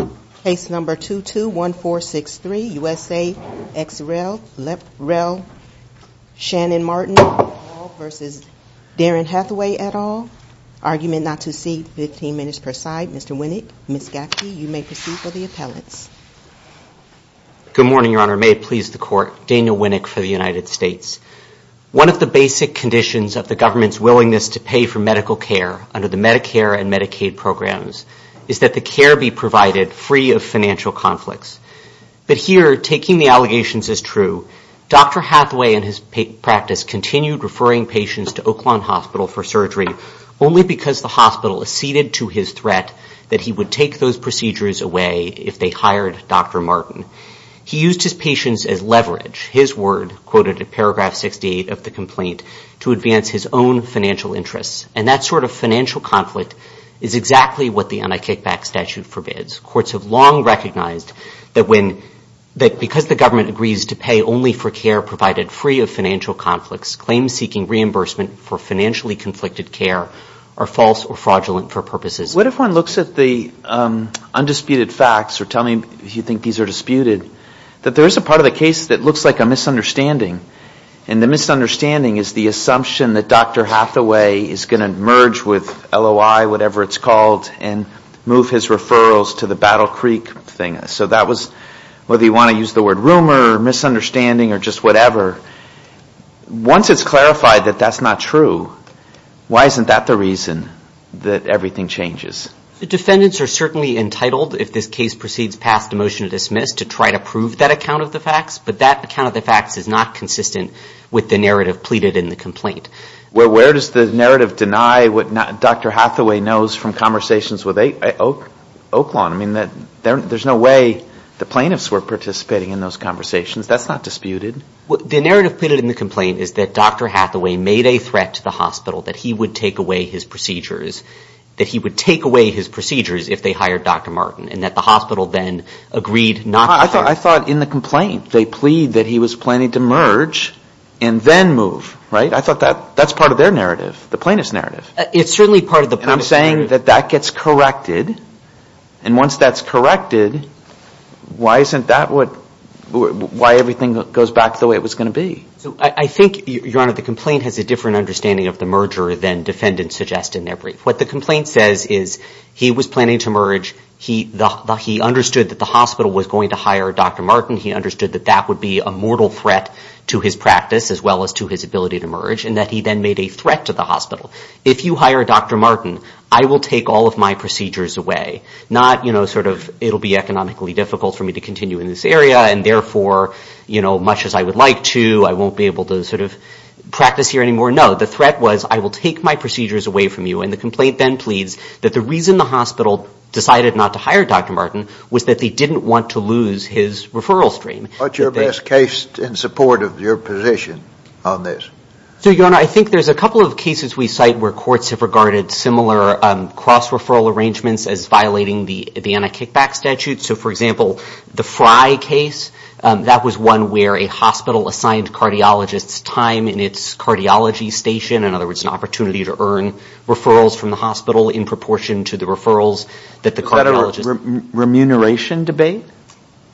at all, argument not to see, 15 minutes per side. Mr. Winnick, Ms. Gaffney, you may proceed for the appellates. Good morning, Your Honor. May it please the Court, Daniel Winnick for the United States. One of the basic conditions of the government's willingness to pay for medical care under the Medicare and Medicaid programs is that the care be provided for the benefit of the patient. free of financial conflicts. But here, taking the allegations as true, Dr. Hathaway in his practice continued referring patients to Oakland Hospital for surgery only because the hospital acceded to his threat that he would take those procedures away if they hired Dr. Martin. He used his patients as leverage, his word, quoted at paragraph 68 of the complaint, to advance his own financial interests. And that sort of financial conflict is exactly what the anti-kickback statute forbids. Courts have long recognized that because the government agrees to pay only for care provided free of financial conflicts, claims seeking reimbursement for financially conflicted care are false or fraudulent for purposes. What if one looks at the undisputed facts, or tell me if you think these are disputed, that there is a part of the case that looks like a misunderstanding, and the misunderstanding is the assumption that Dr. Hathaway is going to merge with LOI, whatever it's called, and move his referrals to the Battle Creek thing. So that was, whether you want to use the word rumor or misunderstanding or just whatever, once it's clarified that that's not true, why isn't that the reason that everything changes? The defendants are certainly entitled, if this case proceeds past a motion to dismiss, to try to prove that that account of the facts, but that account of the facts is not consistent with the narrative pleaded in the complaint. Where does the narrative deny what Dr. Hathaway knows from conversations with Oaklawn? I mean, there's no way the plaintiffs were participating in those conversations. That's not disputed. The narrative pleaded in the complaint is that Dr. Hathaway made a threat to the hospital, that he would take away his procedures, that he would take away his procedures if they hired Dr. Martin, and that the hospital then agreed not to hire him. I thought in the complaint they plead that he was planning to merge and then move, right? I thought that's part of their narrative, the plaintiff's narrative. It's certainly part of the plaintiff's narrative. And I'm saying that that gets corrected, and once that's corrected, why isn't that what, why everything goes back to the way it was going to be? I think, Your Honor, the complaint has a different understanding of the merger than defendants suggest in that brief. What the complaint says is he was planning to merge, he understood that the hospital was going to hire Dr. Martin, he understood that that would be a mortal threat to his practice as well as to his ability to merge, and that he then made a threat to the hospital. If you hire Dr. Martin, I will take all of my procedures away. Not, you know, sort of, it'll be economically difficult for me to continue in this area, and therefore, you know, much as I would like to, I won't be able to sort of practice here anymore. No, the threat was, I will take my procedures away from you, and the complaint then pleads that the reason the hospital decided not to hire Dr. Martin was that they didn't want to lose his referral stream. What's your best case in support of your position on this? So, Your Honor, I think there's a couple of cases we cite where courts have regarded similar cross-referral arrangements as violating the anti-kickback statute. So, for example, the Frye case, that was one where a hospital assigned cardiologists time in its cardiology station, in other words, an opportunity to earn referrals from the hospital in proportion to the referrals that the cardiologist... Is that a remuneration debate?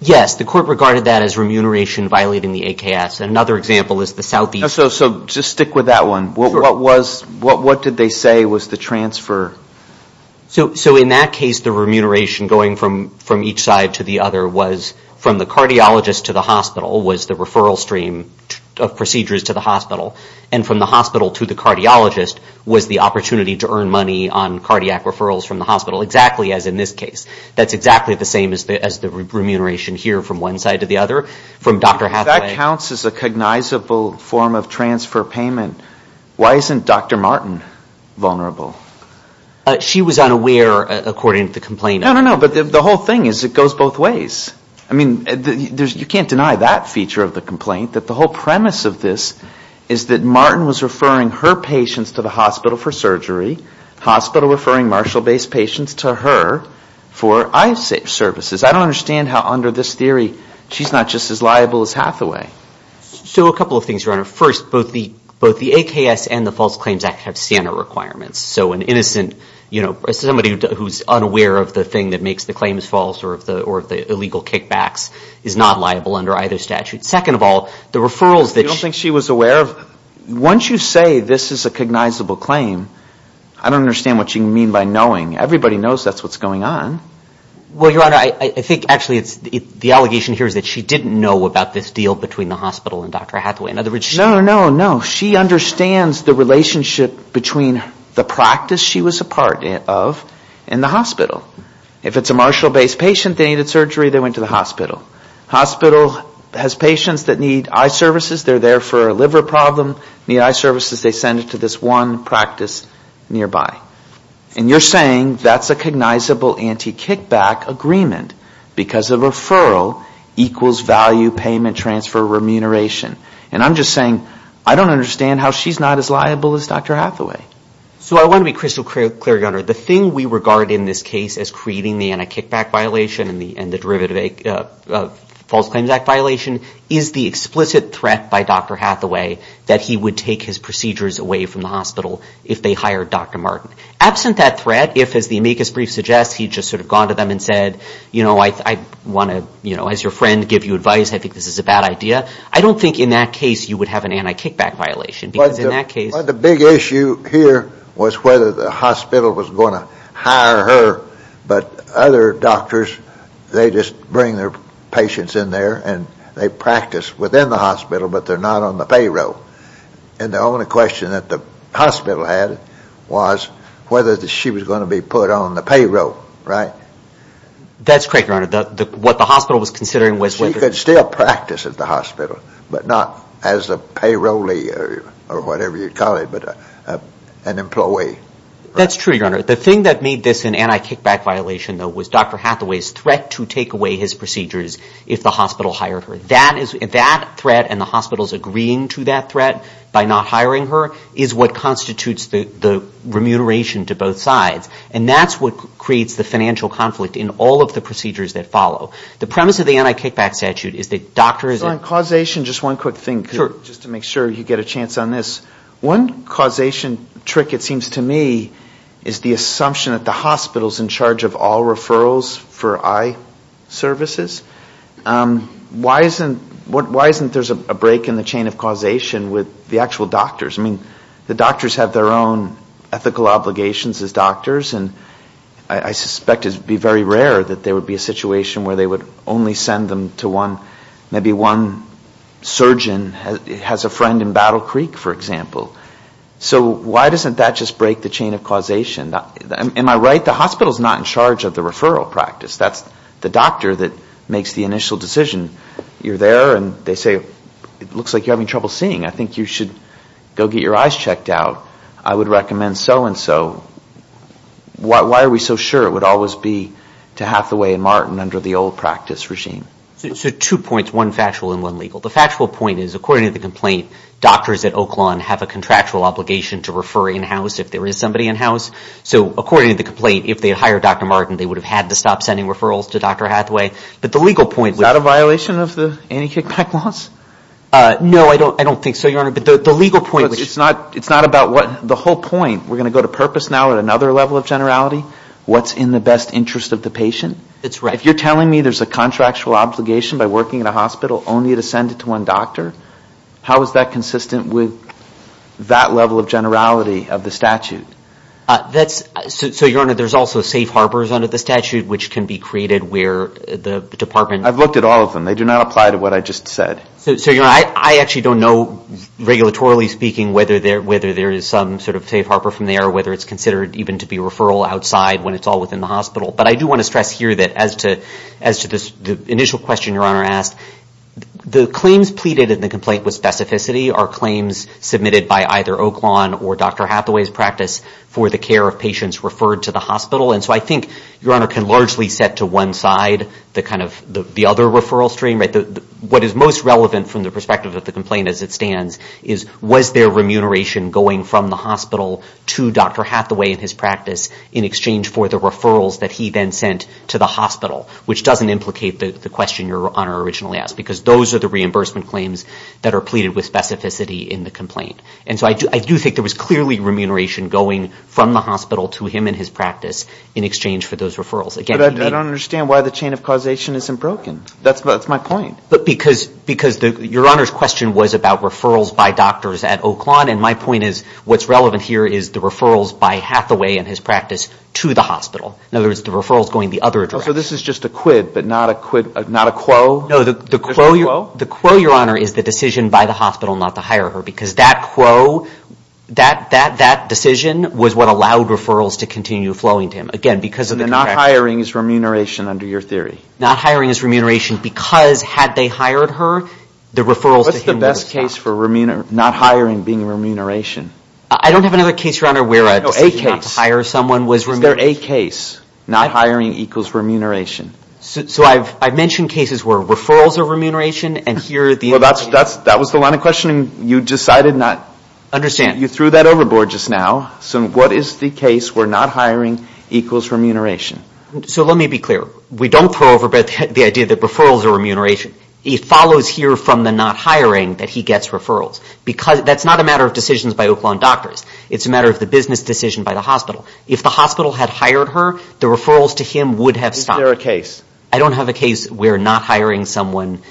Yes, the court regarded that as remuneration violating the AKS. Another example is the Southeast... So, just stick with that one. What did they say was the transfer? So, in that case, the remuneration going from each side to the other was from the cardiologist to the hospital, and from the hospital to the cardiologist was the opportunity to earn money on cardiac referrals from the hospital, exactly as in this case. That's exactly the same as the remuneration here from one side to the other, from Dr. Hathaway. If that counts as a cognizable form of transfer payment, why isn't Dr. Martin vulnerable? She was unaware, according to the complainant. No, no, no, but the whole thing is it goes both ways. I mean, you can't deny that feature of the complaint, that the whole premise of this is that Martin was referring her patients to the hospital for surgery, the hospital referring Marshall-based patients to her for eye services. I don't understand how, under this theory, she's not just as liable as Hathaway. So, a couple of things, Your Honor. First, both the AKS and the False Claims Act have SANA requirements. So, an innocent, you know, somebody who's unaware of the thing that makes the claims false or of the illegal kickbacks is not liable under either statute. Second of all, the referrals that she... You don't think she was aware of? Once you say this is a cognizable claim, I don't understand what you mean by knowing. Everybody knows that's what's going on. Well, Your Honor, I think actually the allegation here is that she didn't know about this deal between the hospital and Dr. Hathaway. In other words, she... Your Honor, no, no, she understands the relationship between the practice she was a part of and the hospital. If it's a Marshall-based patient, they needed surgery, they went to the hospital. Hospital has patients that need eye services, they're there for a liver problem, need eye services, they send it to this one practice nearby. And you're saying that's a cognizable anti-kickback agreement because a referral equals value, payment, transfer, remuneration. And I'm just saying I don't understand how she's not as liable as Dr. Hathaway. So I want to be crystal clear, Your Honor. The thing we regard in this case as creating the anti-kickback violation and the derivative false claims act violation is the explicit threat by Dr. Hathaway that he would take his procedures away from the hospital if they hired Dr. Martin. Absent that threat, if, as the amicus brief suggests, he just sort of gone to them and said, you know, I want to, you know, as your friend, give you advice, I think this is a bad idea. I don't think in that case you would have an anti-kickback violation because in that case... But the big issue here was whether the hospital was going to hire her, but other doctors, they just bring their patients in there and they practice within the hospital, but they're not on the payroll. And the only question that the hospital had was whether she was going to be put on the payroll, right? That's correct, Your Honor. She could still practice at the hospital, but not as a payrollee or whatever you'd call it, but an employee. That's true, Your Honor. The thing that made this an anti-kickback violation, though, was Dr. Hathaway's threat to take away his procedures if the hospital hired her. That threat and the hospital's agreeing to that threat by not hiring her is what constitutes the remuneration to both sides. And that's what creates the financial conflict in all of the procedures that follow. The premise of the anti-kickback statute is that doctors... So on causation, just one quick thing, just to make sure you get a chance on this. One causation trick, it seems to me, is the assumption that the hospital's in charge of all referrals for eye services. Why isn't there a break in the chain of causation with the actual doctors? I mean, the doctors have their own ethical obligations as doctors, and I suspect it would be very rare that there would be a situation where they would only send them to one, maybe one surgeon has a friend in Battle Creek, for example. So why doesn't that just break the chain of causation? Am I right? The hospital's not in charge of the referral practice. That's the doctor that makes the initial decision. You're there, and they say, it looks like you're having trouble seeing. I think you should go get your eyes checked out. I would recommend so-and-so. Why are we so sure it would always be to Hathaway and Martin under the old practice regime? So two points, one factual and one legal. The factual point is, according to the complaint, doctors at Oakland have a contractual obligation to refer in-house if there is somebody in-house. So according to the complaint, if they had hired Dr. Martin, they would have had to stop sending referrals to Dr. Hathaway. Is that a violation of the anti-kickback laws? No, I don't think so, Your Honor. It's not about the whole point. We're going to go to purpose now at another level of generality. What's in the best interest of the patient? If you're telling me there's a contractual obligation by working at a hospital only to send it to one doctor, how is that consistent with that level of generality of the statute? So, Your Honor, there's also safe harbors under the statute which can be created where the department... I've looked at all of them. They do not apply to what I just said. So, Your Honor, I actually don't know, regulatorily speaking, whether there is some sort of safe harbor from there or whether it's considered even to be a referral outside when it's all within the hospital. But I do want to stress here that as to the initial question Your Honor asked, the claims pleaded in the complaint with specificity are claims submitted by either Oakland or Dr. Hathaway's practice for the care of patients referred to the hospital. And so I think Your Honor can largely set to one side the other referral stream. What is most relevant from the perspective of the complaint as it stands is, was there remuneration going from the hospital to Dr. Hathaway and his practice in exchange for the referrals that he then sent to the hospital, which doesn't implicate the question Your Honor originally asked, because those are the reimbursement claims that are pleaded with specificity in the complaint. And so I do think there was clearly remuneration going from the hospital to him and his practice in exchange for those referrals. But I don't understand why the chain of causation isn't broken. That's my point. But because Your Honor's question was about referrals by doctors at Oakland, and my point is what's relevant here is the referrals by Hathaway and his practice to the hospital. In other words, the referral is going the other direction. So this is just a quid, but not a quo? No, the quo, Your Honor, is the decision by the hospital not to hire her, because that quo, that decision was what allowed referrals to continue flowing to him. Again, because of the contract. And the not hiring is remuneration under your theory? Not hiring is remuneration because had they hired her, the referrals to him would have stopped. What's the best case for not hiring being remuneration? I don't have another case, Your Honor, where a decision not to hire someone was remuneration. Is there a case, not hiring equals remuneration? So I've mentioned cases where referrals are remuneration, and here the other is remuneration. So that was the line of questioning? You decided not? Understand. You threw that overboard just now. So what is the case where not hiring equals remuneration? So let me be clear. We don't throw over the idea that referrals are remuneration. It follows here from the not hiring that he gets referrals. That's not a matter of decisions by Oakland doctors. It's a matter of the business decision by the hospital. If the hospital had hired her, the referrals to him would have stopped. Is there a case? I don't have a case where not hiring someone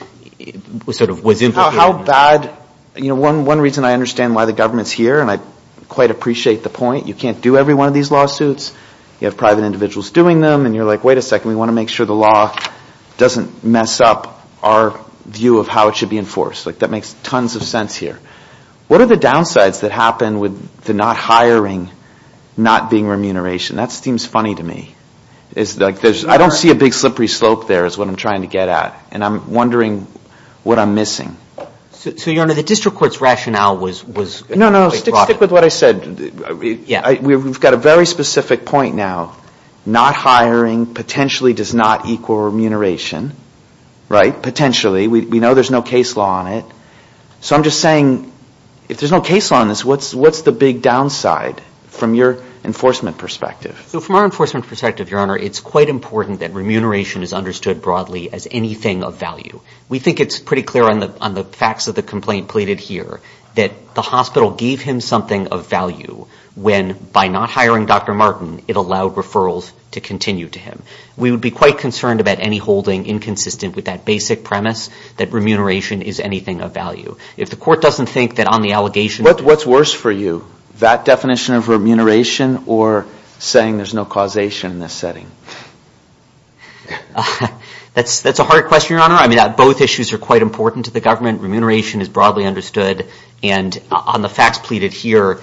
sort of was implicated. How bad? You know, one reason I understand why the government's here, and I quite appreciate the point, you can't do every one of these lawsuits. You have private individuals doing them, and you're like, wait a second, we want to make sure the law doesn't mess up our view of how it should be enforced. Like, that makes tons of sense here. What are the downsides that happen with the not hiring not being remuneration? That seems funny to me. I don't see a big slippery slope there is what I'm trying to get at, and I'm wondering what I'm missing. So, Your Honor, the district court's rationale was quite broad. No, no, stick with what I said. We've got a very specific point now. Not hiring potentially does not equal remuneration. Right? Potentially. We know there's no case law on it. So I'm just saying, if there's no case law on this, what's the big downside from your enforcement perspective? So from our enforcement perspective, Your Honor, it's quite important that remuneration is understood broadly as anything of value. We think it's pretty clear on the facts of the complaint pleaded here that the hospital gave him something of value when, by not hiring Dr. Martin, it allowed referrals to continue to him. We would be quite concerned about any holding inconsistent with that basic premise that remuneration is anything of value. If the court doesn't think that on the allegation of Dr. Martin, I'm assuming there's no causation in this setting. That's a hard question, Your Honor. Both issues are quite important to the government. Remuneration is broadly understood. And on the facts pleaded here,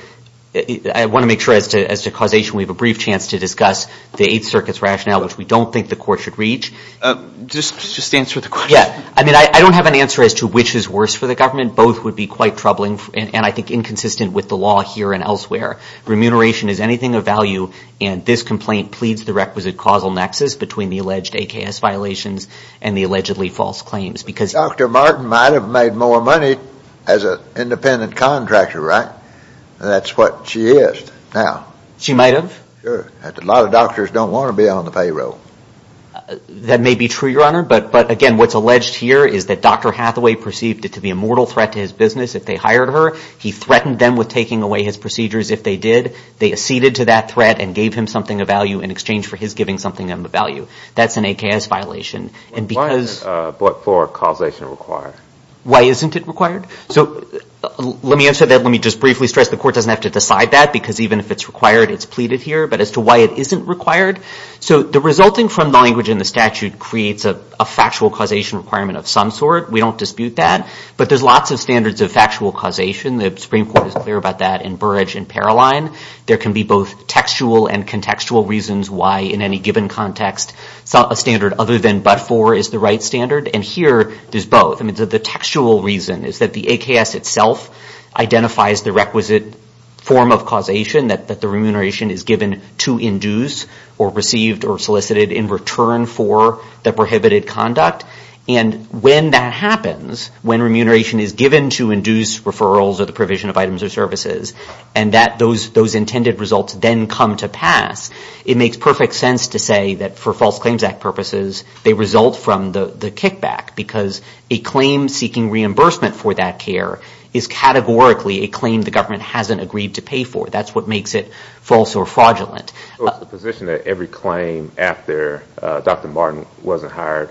I want to make sure as to causation, we have a brief chance to discuss the Eighth Circuit's rationale, which we don't think the court should reach. Just answer the question. I don't have an answer as to which is worse for the government. Both would be quite troubling and I think inconsistent with the law here and elsewhere. Remuneration is anything of value and this complaint pleads the requisite causal nexus between the alleged AKS violations and the allegedly false claims. Dr. Martin might have made more money as an independent contractor, right? That's what she is now. She might have? Sure. A lot of doctors don't want to be on the payroll. That may be true, Your Honor. But again, what's alleged here is that Dr. Hathaway perceived it to be a mortal threat to his business if they hired her. He threatened them with taking away his procedures if they did. They acceded to that threat and gave him something of value in exchange for his giving something of value. That's an AKS violation. Why isn't Block 4 causation required? Why isn't it required? So let me answer that. Let me just briefly stress the court doesn't have to decide that because even if it's required, it's pleaded here. But as to why it isn't required, so the resulting from the language in the statute creates a factual causation requirement of some sort. We don't dispute that. But there's lots of standards of factual causation. The Supreme Court is clear about that in Burrage and Paroline. There can be both textual and contextual reasons why in any given context a standard other than but-for is the right standard. Here, there's both. The textual reason is that the AKS itself identifies the requisite form of causation that the remuneration is given to induce or received or solicited in return for the prohibited conduct. When that happens, when remuneration is given to induce referrals or the provision of items or services, and those intended results then come to pass, it makes perfect sense to say that for False Claims Act purposes, they result from the kickback because a claim seeking reimbursement for that care is categorically a claim the government hasn't agreed to pay for. That's what makes it false or fraudulent. So it's the position that every claim after Dr. Martin wasn't hired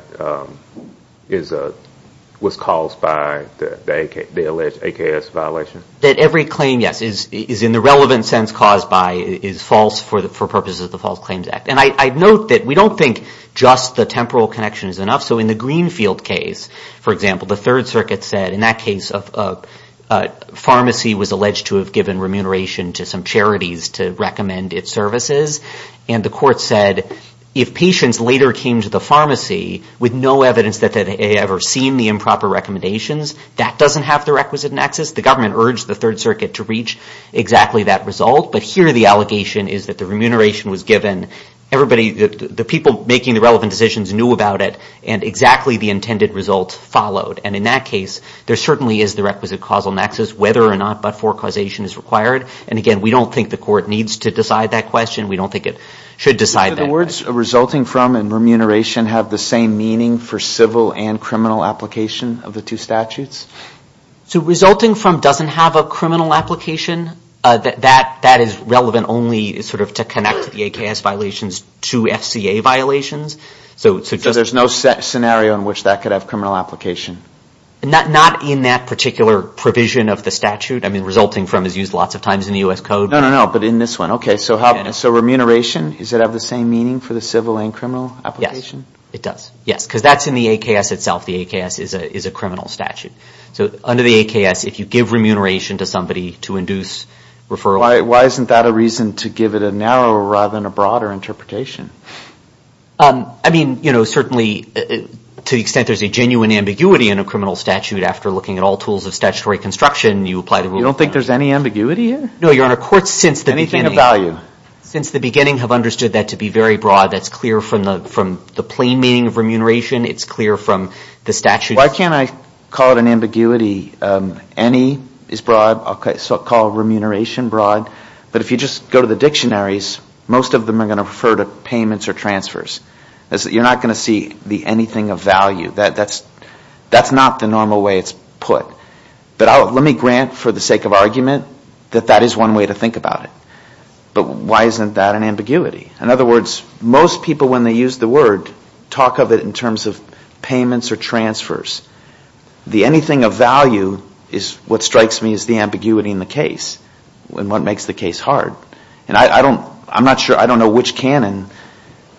was caused by the alleged AKS violation? That every claim, yes, is in the relevant sense caused by is false for purposes of the False Claims Act. And I'd note that we don't think just the temporal connection is enough. So in the Greenfield case, for example, the Third Circuit said in that case a pharmacy was alleged to have given remuneration to some charities to recommend its services. And the court said if patients later came to the pharmacy with no evidence that they had ever seen the improper recommendations, that doesn't have the requisite nexus. The government urged the Third Circuit to reach exactly that result. But here the allegation is that the remuneration was given. Everybody, the people making the relevant decisions knew about it and exactly the intended results followed. And in that case, there certainly is the requisite causal nexus whether or not but-for causation is required. And again, we don't think the court needs to decide that question. We don't think it should decide that. Do the words resulting from and remuneration have the same meaning for civil and criminal application of the two statutes? Resulting from doesn't have a criminal application, that is relevant only to connect the AKS violations to FCA violations. So there's no scenario in which that could have criminal application? Not in that particular provision of the statute. I mean, resulting from is used lots of times in the U.S. Code. No, no, no, but in this one. Okay, so remuneration, does it have the same meaning for the civil and criminal application? Yes, it does. Yes, because that's in the AKS itself. The AKS is a criminal statute. So under the AKS, if you give remuneration to somebody to induce referral... Why isn't that a reason to give it a narrower rather than a broader interpretation? I mean, you know, certainly to the extent there's a genuine ambiguity in a criminal statute after looking at all tools of statutory construction, you apply the rule of thumb. You don't think there's any ambiguity here? No, Your Honor, courts since the beginning... Anything of value? Since the beginning have understood that to be very broad. That's clear from the plain meaning of remuneration. It's clear from the statute. Why can't I call it an ambiguity? Any is broad. I'll call remuneration broad. But if you just go to the dictionaries, most of them are going to refer to payments or transfers. You're not going to see the anything of value. That's not the normal way it's put. But let me grant for the sake of argument that that is one way to think about it. But why isn't that an ambiguity? In other words, most people, when they use the word, talk of it in terms of payments or transfers. The anything of value is what strikes me as the ambiguity in the case and what makes the case hard. And I'm not sure I don't know which canon,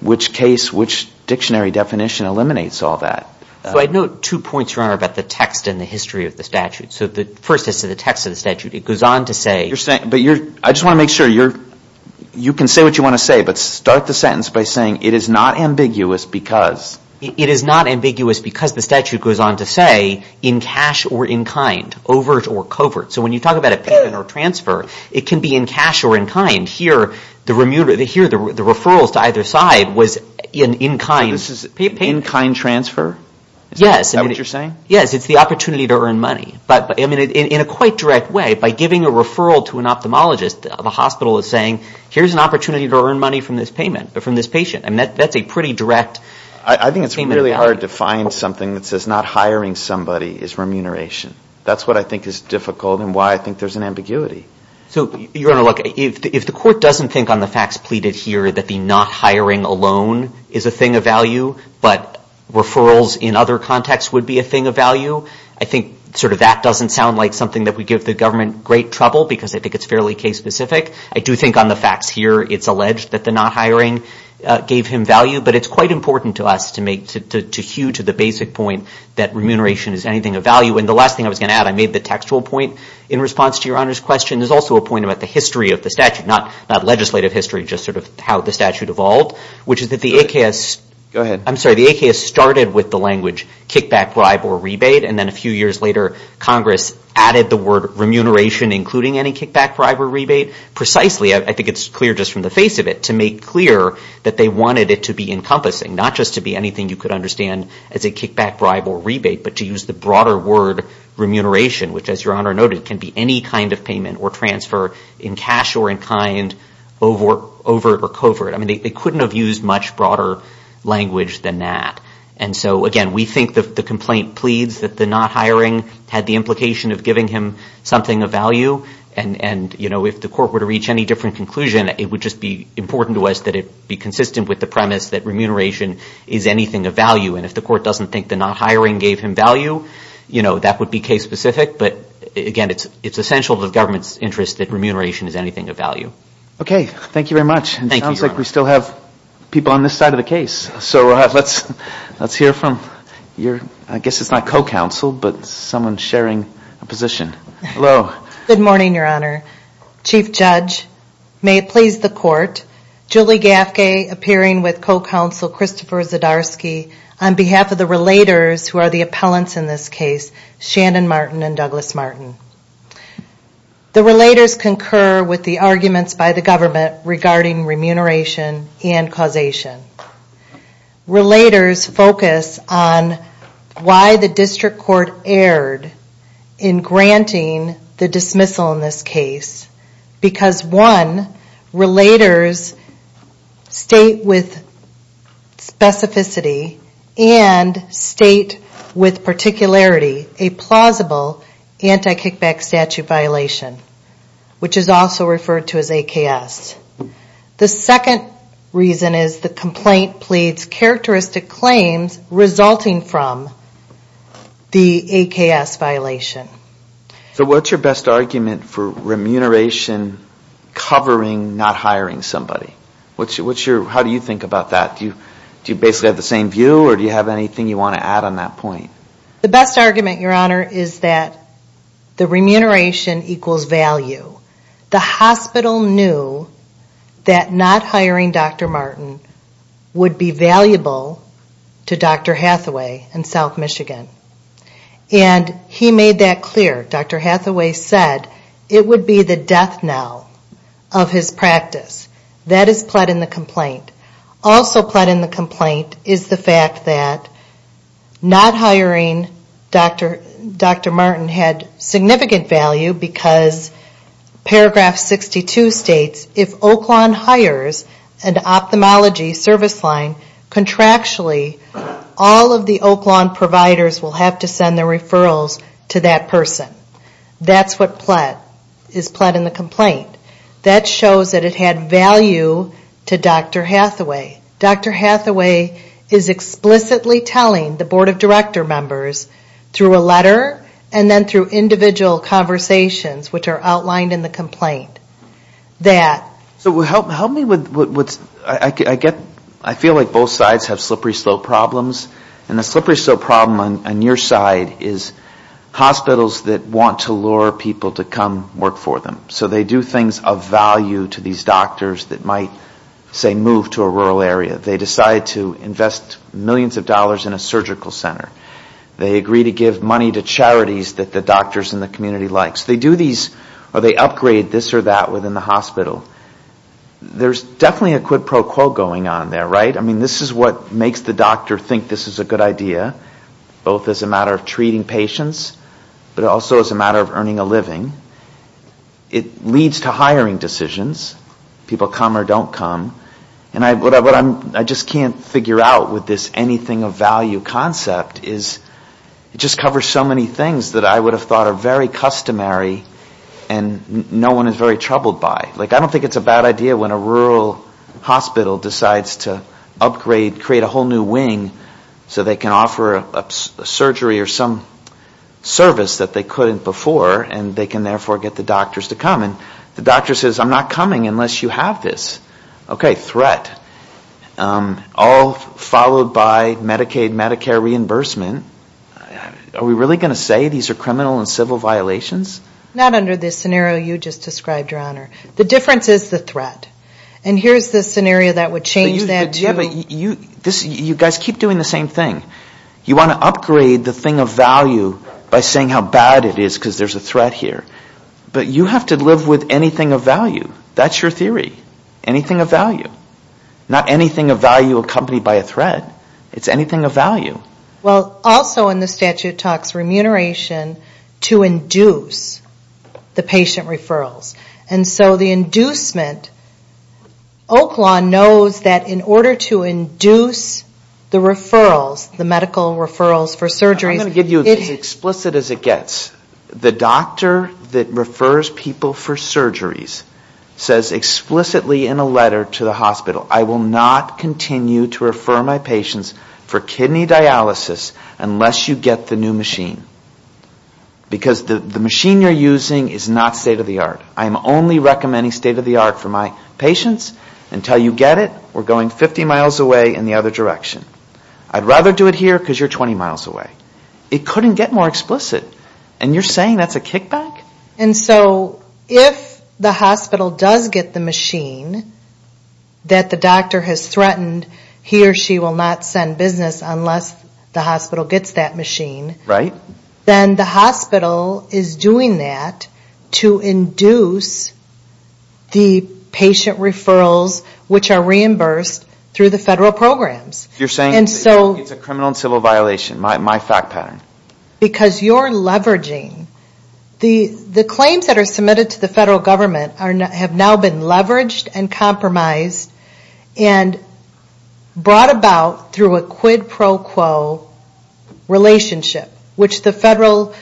which case, which dictionary definition eliminates all that. I'd note two points, Your Honor, about the text and the history of the statute. So the first is to the text of the statute. It goes on to say... I just want to make sure you can say what you want to say, but start the sentence by saying it is not ambiguous because... It is not ambiguous because the statute goes on to say in cash or in kind, overt or covert. So when you talk about a payment or transfer, it can be in cash or in kind. Here the referrals to either side was in kind. So this is in kind transfer? Yes. Is that what you're saying? Yes, it's the opportunity to earn money. But in a quite direct way, by giving a referral to an ophthalmologist, the hospital is saying, here's an opportunity to earn money from this patient. That's a pretty direct payment of value. I think it's really hard to find something that says not hiring somebody is remuneration. That's what I think is difficult and why I think there's an ambiguity. So, Your Honor, look. If the court doesn't think on the facts pleaded here that the not hiring alone is a thing of value, but referrals in other contexts would be a thing of value, I think sort of that doesn't sound like something that would give the government great trouble because I think it's fairly case-specific. I do think on the facts here it's alleged that the not hiring gave him value, but it's quite important to us to make, to hew to the basic point that remuneration is anything of value. And the last thing I was going to add, I made the textual point in response to Your Honor's question. There's also a point about the history of the statute, not legislative history, just sort of how the statute evolved, which is that the AKS started with the language kickback, bribe, or rebate, and then a few years later Congress added the word remuneration, including any kickback, bribe, or rebate. Precisely, I think it's clear just from the face of it, to make clear that they wanted it to be encompassing, not just to be anything you could understand as a kickback, bribe, or rebate, but to use the broader word remuneration, which, as Your Honor noted, can be any kind of payment or transfer in cash or in kind, overt or covert. I mean, they couldn't have used much broader language than that. And so, again, we think the complaint pleads that the not hiring had the implication of giving him something of value. And, you know, if the court were to reach any different conclusion, it would just be important to us that it be consistent with the premise that remuneration is anything of value. And if the court doesn't think the not hiring gave him value, you know, that would be case specific. But, again, it's essential to the government's interest that remuneration is anything of value. Okay, thank you very much. Thank you, Your Honor. It sounds like we still have people on this side of the case. So let's hear from your, I guess it's not co-counsel, but someone sharing a position. Hello. Good morning, Your Honor. Chief Judge, may it please the court, Julie Gaffke appearing with co-counsel Christopher Zdarsky on behalf of the relators who are the appellants in this case, Shannon Martin and Douglas Martin. The relators concur with the arguments by the government regarding remuneration and causation. Relators focus on why the district court erred in granting the dismissal in this case because, one, relators state with specificity and state with particularity a plausible anti-kickback statute violation, which is also referred to as AKS. The second reason is the complaint pleads characteristic claims resulting from the AKS violation. So what's your best argument for remuneration covering not hiring somebody? How do you think about that? Do you basically have the same view or do you have anything you want to add on that point? The best argument, Your Honor, is that the remuneration equals value. The hospital knew that not hiring Dr. Martin would be valuable to Dr. Hathaway in South Michigan. And he made that clear. Dr. Hathaway said it would be the death knell of his practice. That is pled in the complaint. Also pled in the complaint is the fact that not hiring Dr. Martin had significant value because paragraph 62 states, if Oakland hires an ophthalmology service line contractually, all of the Oakland providers will have to send their referrals to that person. That's what is pled in the complaint. That shows that it had value to Dr. Hathaway. Dr. Hathaway is explicitly telling the Board of Director members through a letter and then through individual conversations, which are outlined in the complaint, that... So help me with what's... I feel like both sides have slippery slope problems. And the slippery slope problem on your side is hospitals that want to lure people to come work for them. So they do things of value to these doctors that might, say, move to a rural area. They decide to invest millions of dollars in a surgical center. They agree to give money to charities that the doctors in the community like. So they do these, or they upgrade this or that within the hospital. There's definitely a quid pro quo going on there, right? I mean, this is what makes the doctor think this is a good idea, both as a matter of treating patients, but also as a matter of earning a living. It leads to hiring decisions. People come or don't come. And what I just can't figure out with this anything of value concept is it just covers so many things that I would have thought are very customary and no one is very troubled by. I don't think it's a bad idea when a rural hospital decides to upgrade, create a whole new wing so they can offer a surgery or some service that they couldn't before and they can, therefore, get the doctors to come. And the doctor says, I'm not coming unless you have this. Okay, threat. All followed by Medicaid, Medicare reimbursement. Are we really going to say these are criminal and civil violations? Not under this scenario you just described, Your Honor. The difference is the threat. And here's the scenario that would change that to... You guys keep doing the same thing. You want to upgrade the thing of value by saying how bad it is because there's a threat here. But you have to live with anything of value. That's your theory, anything of value. Not anything of value accompanied by a threat. It's anything of value. Well, also in the statute it talks remuneration to induce the patient referrals. And so the inducement, Oak Law knows that in order to induce the referrals, the medical referrals for surgeries... I'm going to give you as explicit as it gets. The doctor that refers people for surgeries says explicitly in a letter to the hospital, I will not continue to refer my patients for kidney dialysis unless you get the new machine. Because the machine you're using is not state of the art. I'm only recommending state of the art for my patients. Until you get it, we're going 50 miles away in the other direction. I'd rather do it here because you're 20 miles away. It couldn't get more explicit. And you're saying that's a kickback? And so if the hospital does get the machine that the doctor has threatened he or she will not send business unless the hospital gets that machine, then the hospital is doing that to induce the patient referrals which are reimbursed through the federal programs. It's a criminal and civil violation, my fact pattern. Because you're leveraging... The claims that are submitted to the federal government have now been leveraged and compromised and brought about through a quid pro quo relationship, which the federal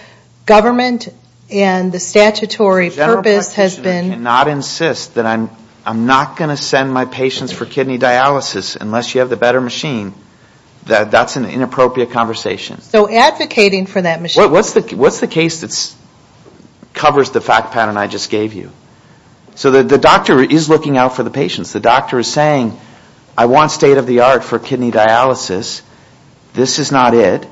government and the statutory purpose has been... I cannot insist that I'm not going to send my patients for kidney dialysis unless you have the better machine. That's an inappropriate conversation. So advocating for that machine... What's the case that covers the fact pattern I just gave you? So the doctor is looking out for the patients. The doctor is saying I want state of the art for kidney dialysis. This is not it.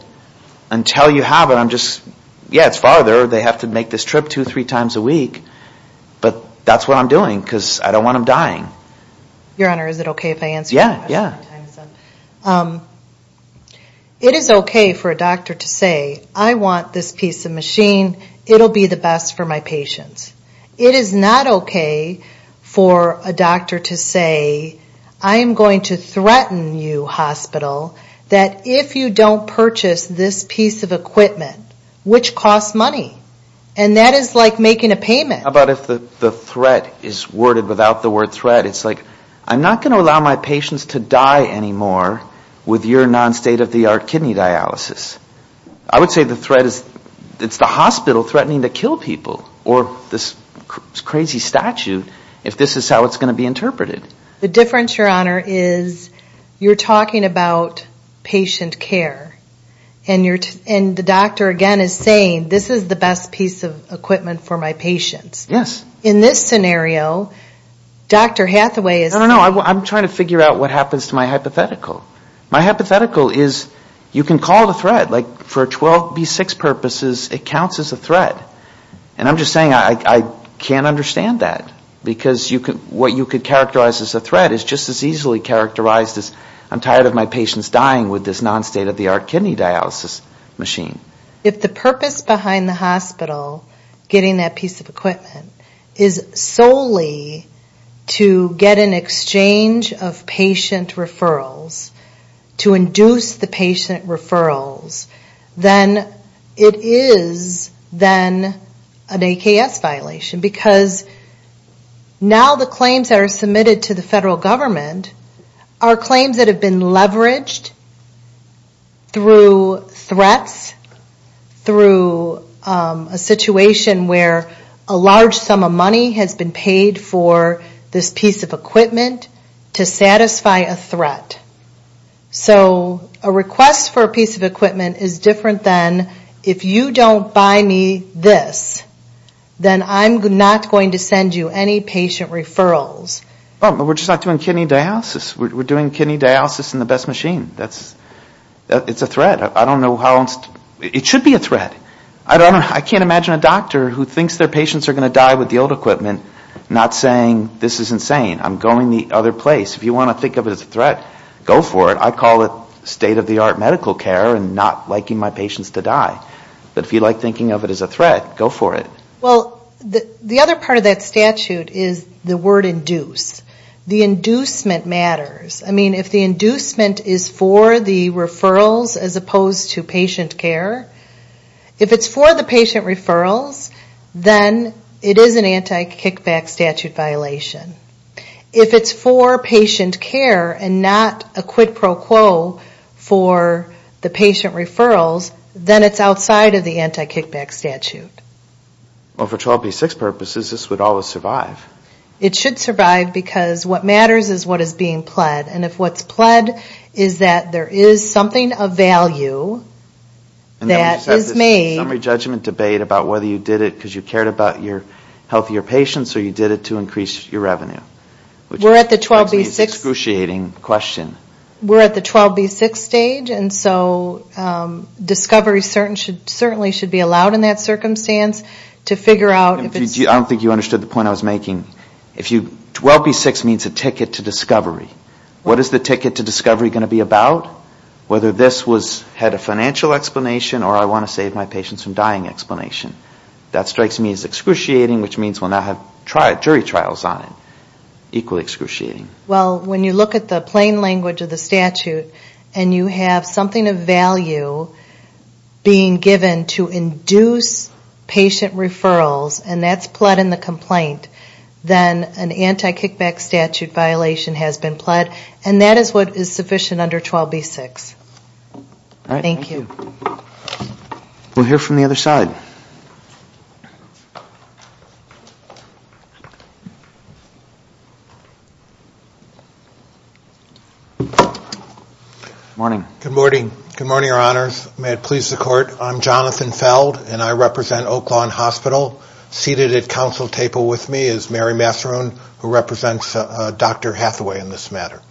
Until you have it, I'm just... Yeah, it's farther. They have to make this trip two or three times a week. But that's what I'm doing because I don't want them dying. Your Honor, is it okay if I answer your question? It is okay for a doctor to say I want this piece of machine. It will be the best for my patients. It is not okay for a doctor to say I'm going to threaten you, hospital, that if you don't purchase this piece of equipment, which costs money. And that is like making a payment. How about if the threat is worded without the word threat? It's like I'm not going to allow my patients to die anymore with your non-state of the art kidney dialysis. I would say the threat is it's the hospital threatening to kill people or this crazy statute if this is how it's going to be interpreted. The difference, Your Honor, is you're talking about patient care. And the doctor, again, is saying this is the best piece of equipment for my patients. Yes. In this scenario, Dr. Hathaway is... No, no, no. I'm trying to figure out what happens to my hypothetical. My hypothetical is you can call it a threat. Like for 12B6 purposes, it counts as a threat. And I'm just saying I can't understand that. Because what you could characterize as a threat is just as easily characterized as I'm tired of my patients dying with this non-state of the art kidney dialysis. If the purpose behind the hospital getting that piece of equipment is solely to get an exchange of patient referrals, to induce the patient referrals, then it is then an AKS violation. Because now the claims that are submitted to the federal government are claims that have been leveraged throughout the years. Through threats, through a situation where a large sum of money has been paid for this piece of equipment to satisfy a threat. So a request for a piece of equipment is different than if you don't buy me this, then I'm not going to send you any patient referrals. We're just not doing kidney dialysis. We're doing kidney dialysis in the best machine. It's a threat. It should be a threat. I can't imagine a doctor who thinks their patients are going to die with the old equipment not saying this is insane. I'm going the other place. If you want to think of it as a threat, go for it. I call it state of the art medical care and not liking my patients to die. But if you like thinking of it as a threat, go for it. The other part of that statute is the word induce. The inducement matters. If the inducement is for the referrals as opposed to patient care, if it's for the patient referrals, then it is an anti-kickback statute violation. If it's for patient care and not a quid pro quo for the patient referrals, then it's outside of the anti-kickback statute. Well, for 12B6 purposes, this would always survive. It should survive because what matters is what is being pled. And if what's pled is that there is something of value that is made... And then we just have this summary judgment debate about whether you did it because you cared about your healthier patients or you did it to increase your revenue. Which is an excruciating question. We're at the 12B6 stage, and so discovery certainly should be allowed in that circumstance to figure out if it's... I don't think you understood the point I was making. 12B6 means a ticket to discovery. What is the ticket to discovery going to be about? Whether this had a financial explanation or I want to save my patients from dying explanation. That strikes me as excruciating, which means we'll now have jury trials on it. Equally excruciating. Well, when you look at the plain language of the statute and you have something of value being given to induce patient referrals, and that's pled in the complaint, then an anti-kickback statute violation has been pled. And that is what is sufficient under 12B6. Thank you. We'll hear from the other side. Good morning. Good morning, your honors. May it please the court. I'm Jonathan Feld, and I represent Oak Lawn Hospital. Seated at council table with me is Mary Massarone, who represents Dr. Hathaway in this matter.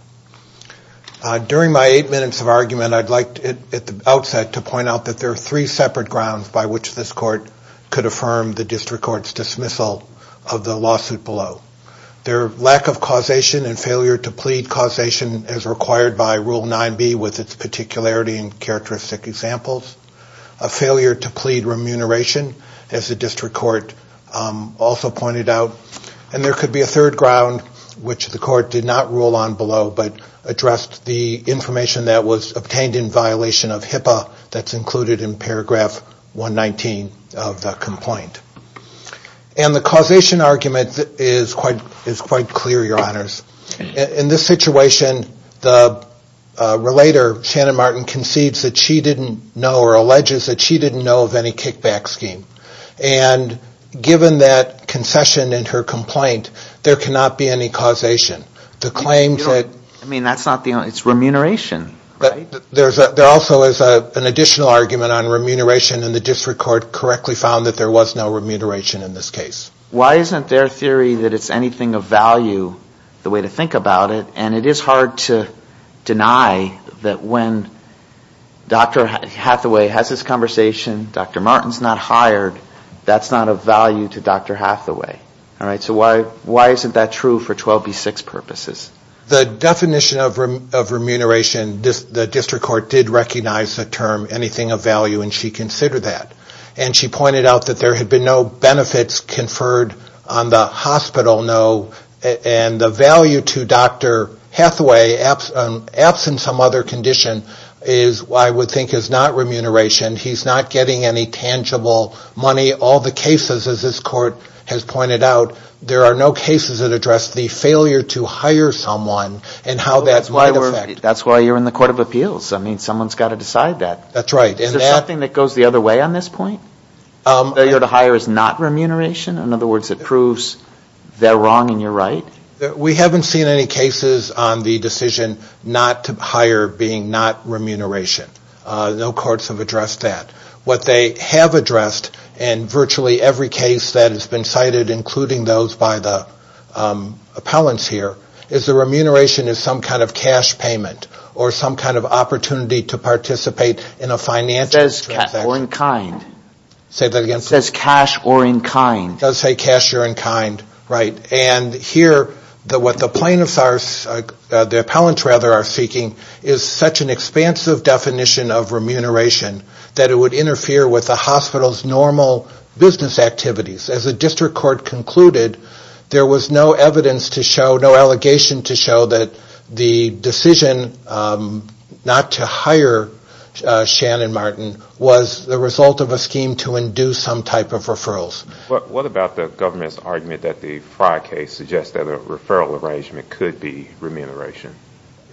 During my eight minutes of argument, I'd like at the outset to point out that there are three separate grounds by which this court could affirm the district court's dismissal of the lawsuit below. Their lack of causation and failure to plead causation as required by Rule 9B with its particularity and characteristic examples. A failure to plead remuneration, as the district court also pointed out. And there could be a third ground which the court did not rule on below but addressed the information that was obtained in violation of HIPAA that's included in paragraph 119 of the complaint. And the causation argument is quite clear, your honors. In this situation, the relator, Shannon Martin, concedes that she didn't know or alleges that she didn't know of any kickback scheme. And given that concession in her complaint, there cannot be any causation. I mean, that's not the only, it's remuneration, right? There also is an additional argument on remuneration, and the district court correctly found that there was no remuneration in this case. Why isn't their theory that it's anything of value the way to think about it, and it is hard to deny that when Dr. Hathaway has this conversation, Dr. Martin's not hired, that's not of value to Dr. Hathaway. So why isn't that true for 12B6 purposes? The definition of remuneration, the district court did recognize the term anything of value, and she considered that. And she pointed out that there had been no benefits conferred on the hospital, and the value to Dr. Hathaway, absent some other condition, I would think is not remuneration. He's not getting any tangible money. All the cases, as this court has pointed out, there are no cases that address the failure to hire someone and how that might affect... That's why you're in the Court of Appeals. I mean, someone's got to decide that. Is there something that goes the other way on this point? Failure to hire is not remuneration? In other words, it proves they're wrong and you're right? We haven't seen any cases on the decision not to hire being not remuneration. No courts have addressed that. What they have addressed, and virtually every case that has been cited, including those by the appellants here, is the remuneration is some kind of cash payment or some kind of opportunity to participate in a financial transaction. It says cash or in kind. It does say cash or in kind. And here, what the plaintiffs, the appellants rather, are seeking is such an expansive definition of remuneration that it would interfere with the hospital's normal business activities. As the district court concluded, there was no evidence to show, no allegation to show that the decision not to hire Shannon Martin was the result of a scheme to induce some type of referrals. What about the government's argument that the Frye case suggests that a referral arrangement could be remuneration?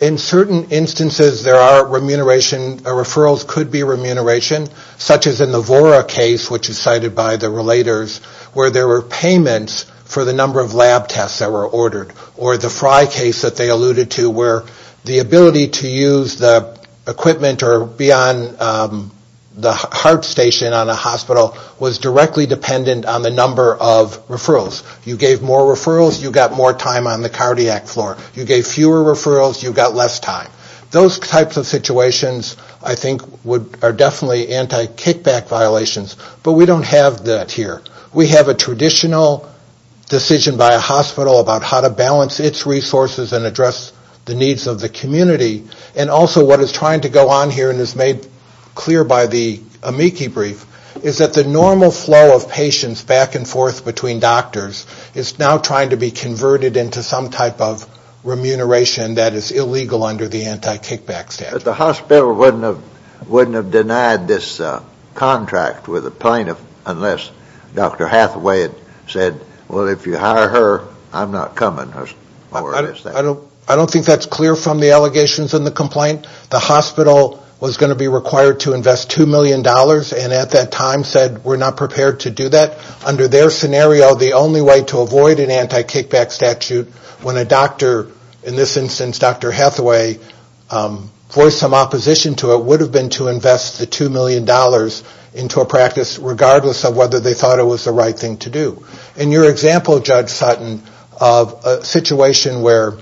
In certain instances, there are referrals that could be remuneration, such as in the Vora case, which is cited by the relators, where there were payments for the number of lab tests that were ordered. Or the Frye case that they alluded to, where the ability to use the equipment or be on the heart station on a hospital was directly dependent on the number of referrals. You gave more referrals, you got more time on the cardiac floor. You gave fewer referrals, you got less time. Those types of situations, I think, are definitely anti-kickback violations. But we don't have that here. We have a traditional decision by a hospital about how to balance its resources and address the needs of the community. And also, what is trying to go on here, and is made clear by the Amici brief, is that the normal flow of patients back and forth between doctors is now trying to be converted into some type of remuneration that is illegal under the anti-kickback statute. But the hospital wouldn't have denied this contract with a plaintiff unless Dr. Hathaway had said, well, if you hire her, I'm not coming. I don't think that's clear from the allegations in the complaint. The hospital was going to be required to invest $2 million and at that time said, we're not prepared to do that. Under their scenario, the only way to avoid an anti-kickback statute when a doctor, in this instance Dr. Hathaway, voiced some opposition to it would have been to invest the $2 million into a practice regardless of whether they thought it was the right thing to do. In your example, Judge Sutton, a situation where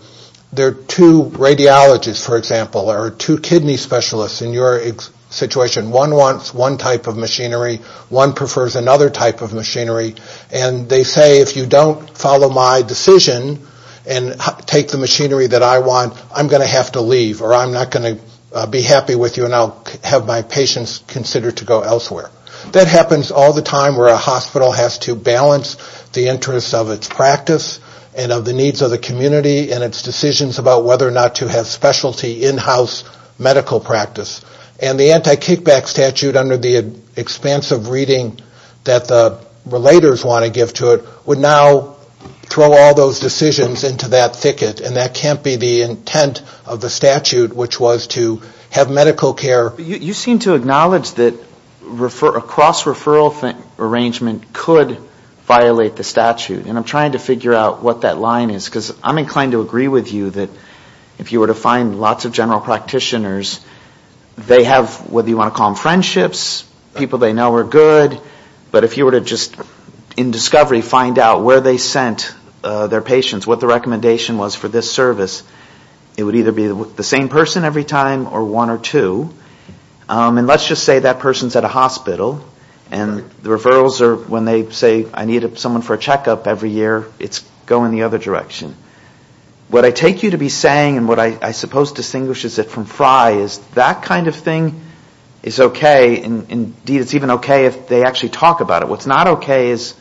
there are two radiologists, for example, or two kidney specialists in your situation. One wants one type of machinery. One prefers another type of machinery. And they say, if you don't follow my decision and take the machinery that I want, I'm going to have to leave or I'm not going to be happy with you and I'll have my patients consider to go elsewhere. That happens all the time where a hospital has to balance the interests of its practice and of the needs of the community and its decisions about whether or not to have specialty in-house medical practice. And the anti-kickback statute under the expansive reading that the relators want to give to it would now throw all those decisions into that thicket and that can't be the intent of the statute which was to have medical care... But you seem to acknowledge that a cross-referral arrangement could violate the statute. And I'm trying to figure out what that line is because I'm inclined to agree with you that if you were to find lots of general practitioners, they have, whether you want to call them friendships, people they know are good, but if you were to just in discovery find out where they sent their patients, what the recommendation was for this service, it would either be the same person every time or one or two. And let's just say that person's at a hospital and the referrals are when they say, I need someone for a checkup every year, it's going the other direction. What I take you to be saying and what I suppose distinguishes it from FRI is that kind of thing is okay and indeed it's even okay if they actually talk about it. What's not okay is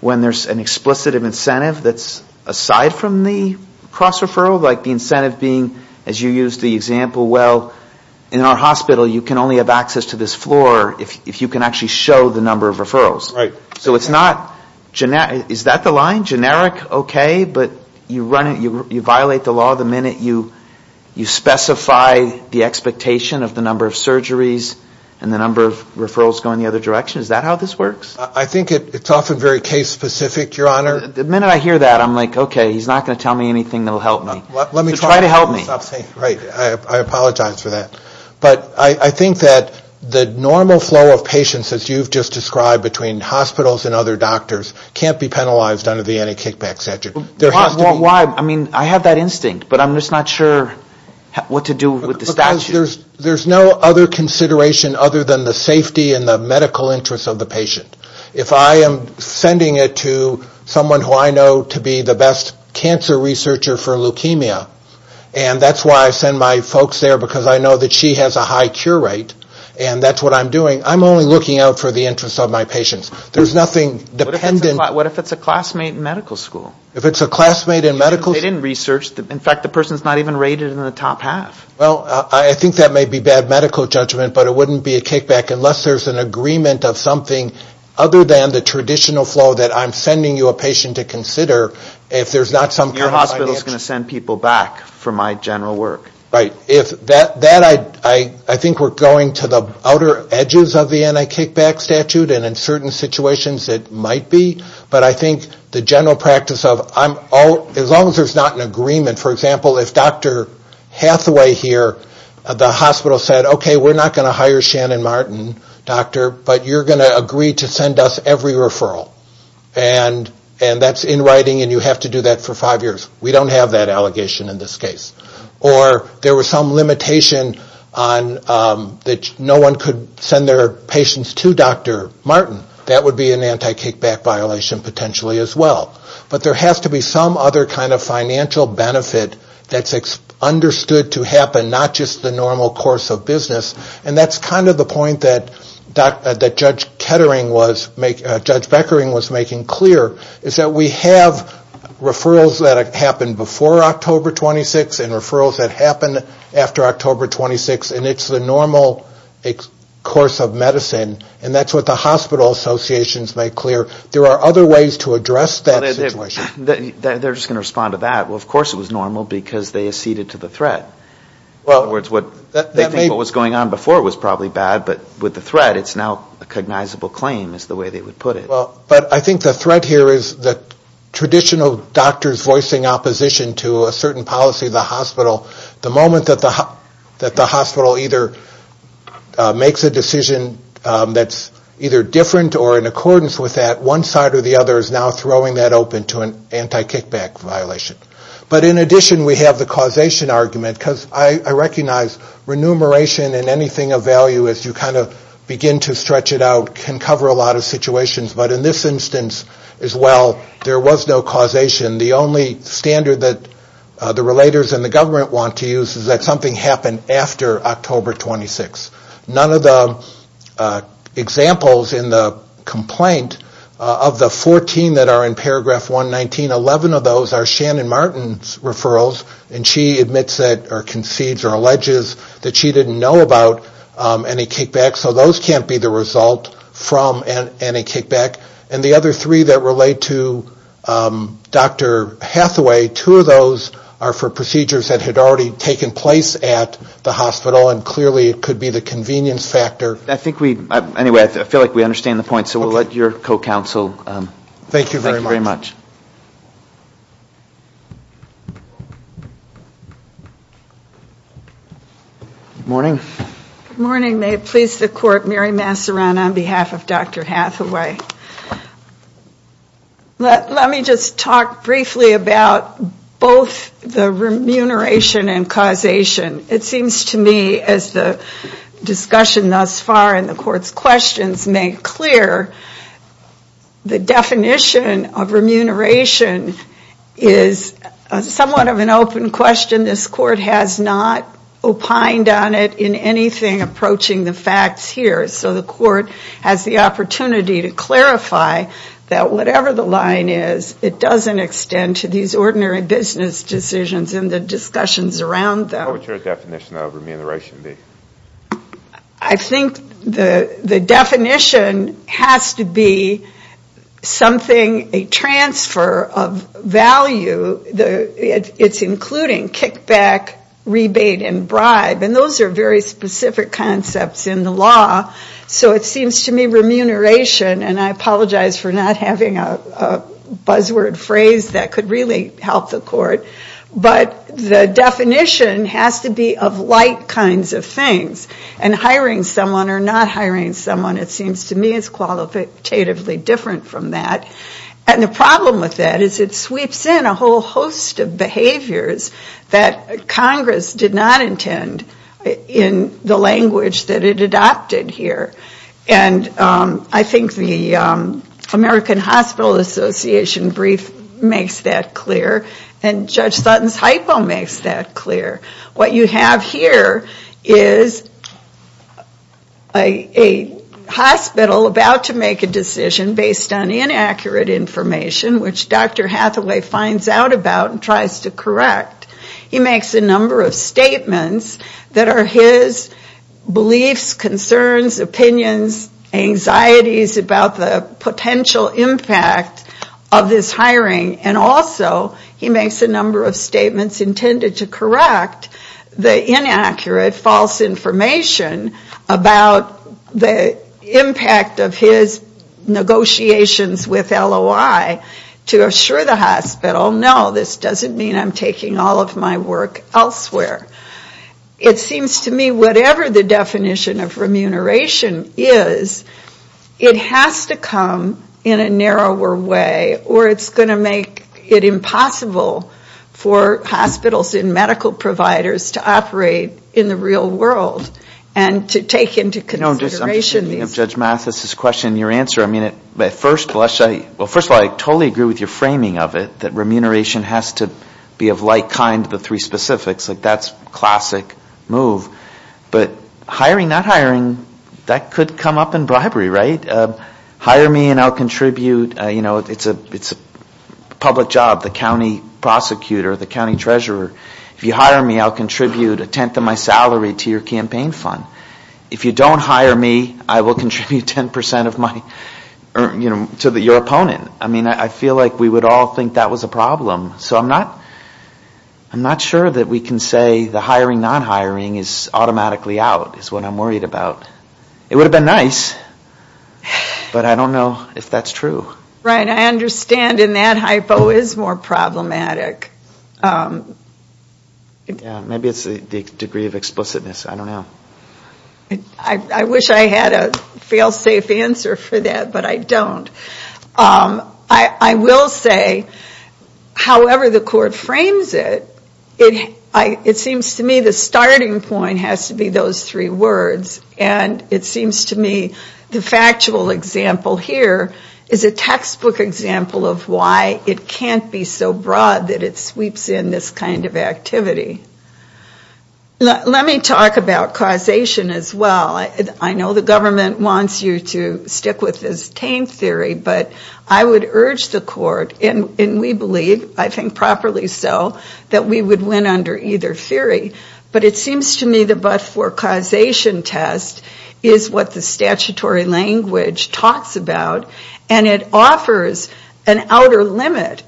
when there's an explicit incentive that's aside from the cross-referral, like the incentive being, as you used the example well, in our hospital you can only have access to this floor if you can actually show the number of referrals. So it's not, is that the line? Generic, okay, but you violate the law the minute you specify the expectation of the number of surgeries and the number of referrals going the other direction? Is that how this works? I think it's often very case-specific, Your Honor. The minute I hear that, I'm like, okay, he's not going to tell me anything that will help me. Just try to help me. Right, I apologize for that. But I think that the normal flow of patients, as you've just described, between hospitals and other doctors can't be penalized under the anti-kickback statute. Why? I mean, I have that instinct, but I'm just not sure what to do with the statute. Because there's no other consideration other than the safety and the medical interest of the patient. If I am sending it to someone who I know to be the best cancer researcher for leukemia, and that's why I send my folks there, because I know that she has a high cure rate and that's what I'm doing, I'm only looking out for the interest of my patients. There's nothing dependent. What if it's a classmate in medical school? If it's a classmate in medical school? They didn't research. In fact, the person's not even rated in the top half. Well, I think that may be bad medical judgment, but it wouldn't be a kickback unless there's an agreement of something other than the traditional flow that I'm sending you a patient to consider. Your hospital's going to send people back for my general work. Right. I think we're going to the outer edges of the anti-kickback statute, and in certain situations it might be. But I think the general practice of, as long as there's not an agreement, for example, if Dr. Hathaway here at the hospital said, okay, we're not going to hire Shannon Martin, doctor, but you're going to agree to send us every referral, and that's in writing and you have to do that for five years. We don't have that allegation in this case. Or there was some limitation that no one could send their patients to Dr. Martin. That would be an anti-kickback violation potentially as well. But there has to be some other kind of financial benefit that's understood to happen, not just the normal course of business. And that's kind of the point that Judge Beckering was making clear, is that we have referrals that happen before October 26th and referrals that happen after October 26th, and it's the normal course of medicine. And that's what the hospital associations make clear. There are other ways to address that situation. They're just going to respond to that. Well, of course it was normal because they acceded to the threat. In other words, they think what was going on before was probably bad, but with the threat it's now a cognizable claim is the way they would put it. But I think the threat here is that traditional doctors voicing opposition to a certain policy of the hospital, the moment that the hospital either makes a decision that's either different or in accordance with that, one side or the other is now throwing that open to an anti-kickback violation. But in addition we have the causation argument, because I recognize remuneration and anything of value as you kind of begin to stretch it out can cover a lot of situations, but in this instance as well there was no causation. The only standard that the relators and the government want to use is that something happened after October 26th. None of the examples in the complaint of the 14 that are in paragraph 119, 11 of those are Shannon Martin's referrals and she admits or concedes or alleges that she didn't know about anti-kickback, so those can't be the result from anti-kickback. And the other three that relate to Dr. Hathaway, two of those are for procedures that had already taken place at the hospital and clearly it could be the convenience factor. I think we, anyway, I feel like we understand the point, so we'll let your co-counsel. Thank you very much. Good morning. Good morning. May it please the court, Mary Massaran on behalf of Dr. Hathaway. Let me just talk briefly about both the remuneration and causation. As the discussion thus far and the court's questions make clear, the definition of remuneration is somewhat of an open question. This court has not opined on it in anything approaching the facts here, so the court has the opportunity to clarify that whatever the line is, it doesn't extend to these ordinary business decisions and the discussions around them. What would your definition of remuneration be? I think the definition has to be something, a transfer of value. It's including kickback, rebate and bribe and those are very specific concepts in the law, so it seems to me remuneration, and I apologize for not having a buzzword phrase that could really help the court, but the definition has to be of like kinds of things and hiring someone or not hiring someone, it seems to me is qualitatively different from that. And the problem with that is it sweeps in a whole host of behaviors that Congress did not intend in the language that it adopted here. And I think the American Hospital Association brief makes that clear and Judge Sutton's hypo makes that clear. What you have here is a hospital about to make a decision based on inaccurate information, which Dr. Hathaway finds out about and tries to correct. He makes a number of statements that are his beliefs, concerns, opinions, anxieties about the potential impact of this hiring and also he makes a number of statements intended to correct the inaccurate false information about the impact of his negotiations with LOI to assure the hospital, no, this doesn't mean I'm taking all of my work elsewhere. It seems to me whatever the definition of remuneration is, it has to come in a narrower way or it's going to make it impossible for hospitals and medical providers to operate in the real world and to take into consideration these... I'm just thinking of Judge Mathis's question and your answer. First of all, I totally agree with your framing of it, that remuneration has to be of like kind to the three specifics. That's a classic move. But hiring, not hiring, that could come up in bribery, right? Hire me and I'll contribute. It's a public job, the county prosecutor, the county treasurer. If you hire me, I'll contribute a tenth of my salary to your campaign fund. If you don't hire me, I will contribute 10% to your opponent. I feel like we would all think that was a problem. So I'm not sure that we can say the hiring, not hiring is automatically out is what I'm worried about. It would have been nice, but I don't know if that's true. Right, I understand and that hypo is more problematic. Maybe it's the degree of explicitness, I don't know. I wish I had a fail-safe answer for that, but I don't. I will say, however the court frames it, it seems to me the starting point has to be those three words and it seems to me the factual example here is a textbook example of why it can't be so broad that it sweeps in this kind of activity. Let me talk about causation as well. I know the government wants you to stick with this tame theory, but I would urge the court, and we believe, I think properly so, that we would win under either theory. But it seems to me the but-for causation test is what the statutory language talks about and it offers an outer limit.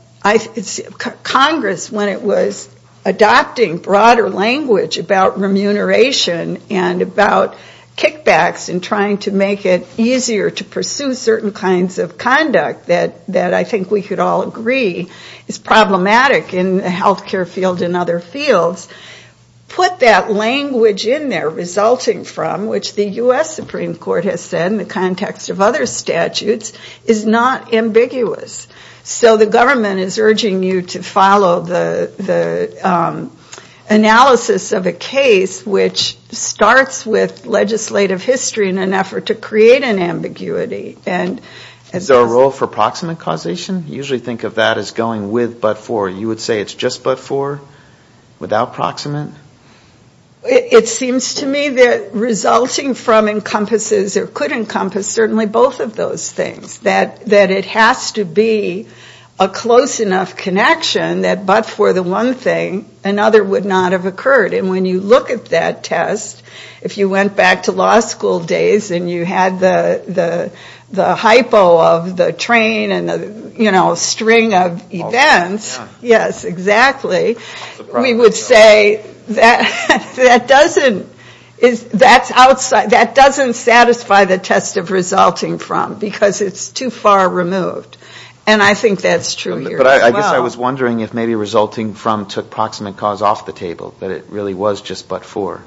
Congress, when it was adopting broader language about remuneration and about kickbacks and trying to make it easier to pursue certain kinds of conduct that I think we could all agree is problematic in the healthcare field and other fields, put that language in there resulting from, which the U.S. Supreme Court has said in the context of other statutes, is not ambiguous. So the government is urging you to follow the analysis of a case which starts with legislative history in an effort to create an ambiguity. Is there a role for proximate causation? You usually think of that as going with but-for. You would say it's just but-for without proximate? It seems to me that resulting from encompasses or could encompass certainly both of those things. That it has to be a close enough connection that but-for the one thing, another would not have occurred. And when you look at that test, if you went back to law school days and you had the hypo of the train and the string of events, we would say that doesn't satisfy the test of resulting from because it's too far removed. And I think that's true here as well. I guess I was wondering if maybe resulting from took proximate cause off the table, that it really was just but-for.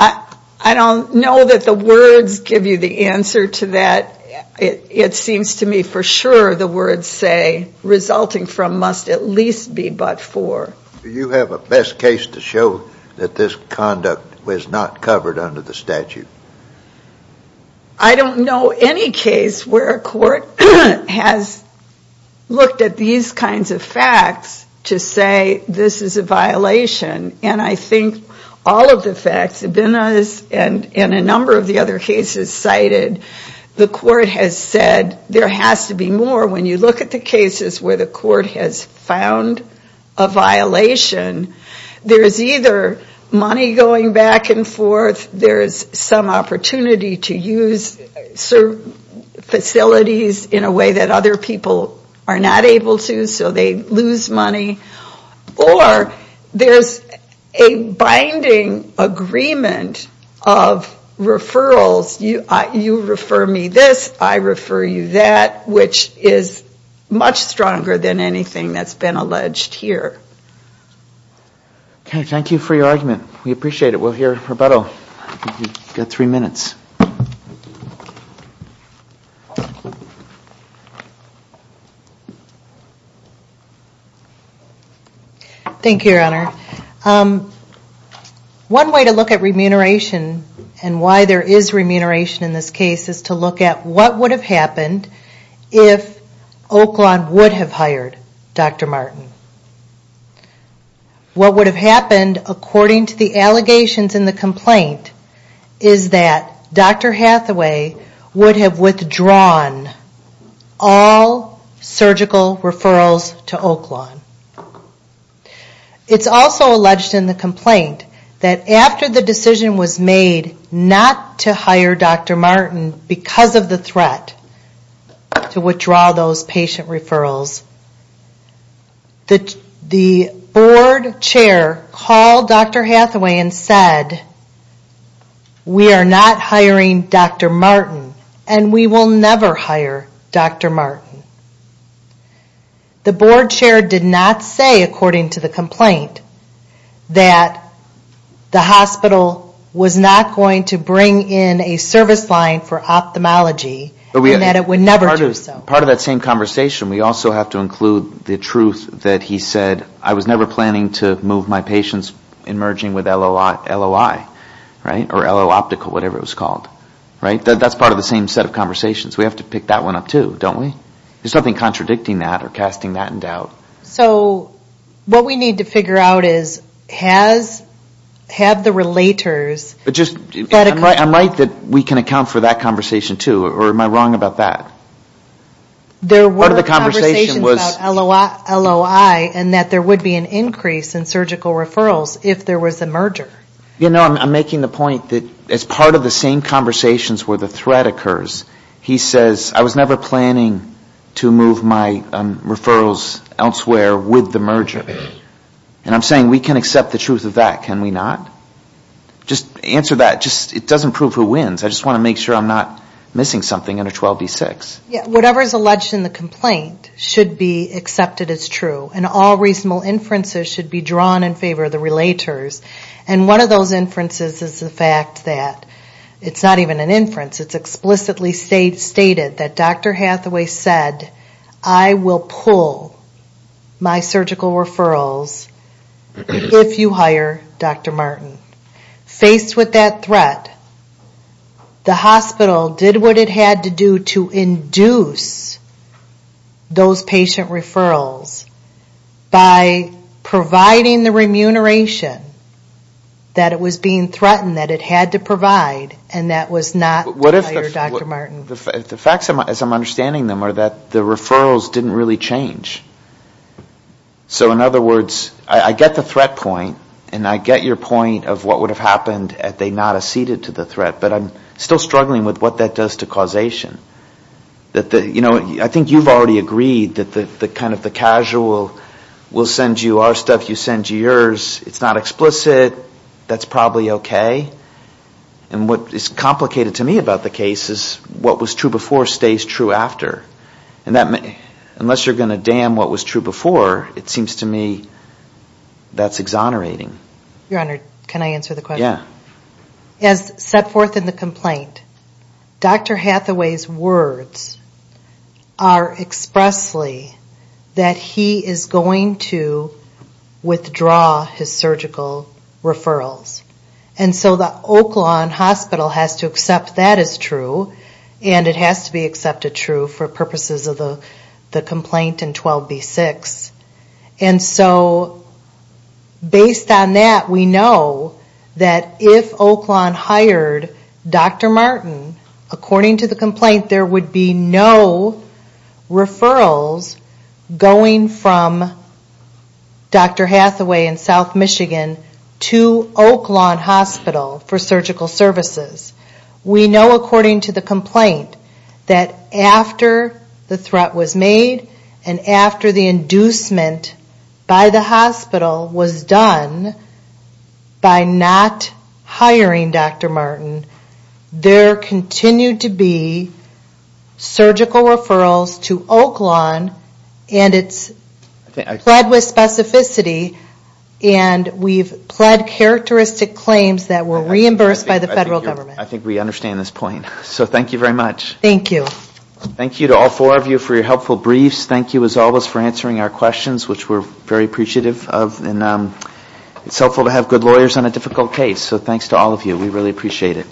I don't know that the words give you the answer to that. It seems to me for sure the words say resulting from must at least be but-for. Do you have a best case to show that this conduct was not covered under the statute? I don't know any case where a court has looked at these kinds of facts to say this is a violation. And I think all of the facts, and a number of the other cases cited, the court has said there has to be more when you look at the cases where the court has found a violation. There's either money going back and forth, there's some opportunity to use facilities in a way that other people are not able to, so they lose money, or there's a binding agreement of referrals. You refer me this, I refer you that, which is much stronger than anything that's been alleged here. Okay, thank you for your argument. We appreciate it. We'll hear a rebuttal. You've got three minutes. Thank you, Your Honor. One way to look at remuneration and why there is remuneration in this case is to look at what would have happened if Oaklawn would have hired Dr. Martin. What would have happened, according to the allegations in the complaint, is that Dr. Hathaway would have withdrawn all surgical referrals to Oaklawn. It's also alleged in the complaint that after the decision was made not to hire Dr. Martin because of the threat to withdraw those patient referrals, the board chair called Dr. Hathaway and said, we are not hiring Dr. Martin and we will never hire Dr. Martin. The board chair did not say, according to the complaint, that the hospital was not going to bring in a service line for ophthalmology and that it would never do so. Part of that same conversation, we also have to include the truth that he said, I was never planning to move my patients in merging with LOI or LO Optical. That's part of the same set of conversations. We have to pick that one up too, don't we? There's nothing contradicting that or casting that in doubt. I'm right that we can account for that conversation too or am I wrong about that? There were conversations about LOI and that there would be an increase in surgical referrals if there was a merger. I'm making the point that as part of the same conversations where the threat occurs, he says, I was never planning to move my referrals elsewhere with the merger. I'm saying we can accept the truth of that, can we not? Answer that. It doesn't prove who wins. I just want to make sure I'm not missing something under 12B6. Whatever is alleged in the complaint should be accepted as true and all reasonable inferences should be drawn in favor of the relators. One of those inferences is the fact that it's not even an inference. It's explicitly stated that Dr. Hathaway said, I will pull my surgical referrals if you hire Dr. Martin. Faced with that threat, the hospital did what it had to do to induce those patient referrals by providing the remuneration that it was being threatened that it had to provide and that was not to hire Dr. Martin. I think the facts as I'm understanding them are that the referrals didn't really change. So in other words, I get the threat point and I get your point of what would have happened if they had not acceded to the threat but I'm still struggling with what that does to causation. I think you've already agreed that the casual will send you our stuff, you send you yours. It's not explicit, that's probably okay and what is complicated to me about the case is what was true before stays true after and unless you're going to damn what was true before it seems to me that's exonerating. Your Honor, can I answer the question? As set forth in the complaint, Dr. Hathaway's words are expressly that he is going to withdraw his surgical referrals and so the Oak Lawn Hospital has to accept that as true and it has to be accepted true for purposes of the complaint in 12B6 and so based on that we know that if Oak Lawn hired Dr. Martin according to the complaint there would be no referrals going from Dr. Hathaway in South Michigan to Oak Lawn Hospital for surgical services. We know according to the complaint that after the threat was made and after the inducement by the hospital was done by not hiring Dr. Martin there continued to be surgical referrals to Oak Lawn and it's fled with specificity and we've pled characteristic claims that were reimbursed by the federal government. I think we understand this point. So thank you very much. Thank you to all four of you for your helpful briefs. Thank you as always for answering our questions which we're very appreciative of and it's helpful to have good lawyers on a difficult case so thanks to all of you, we really appreciate it.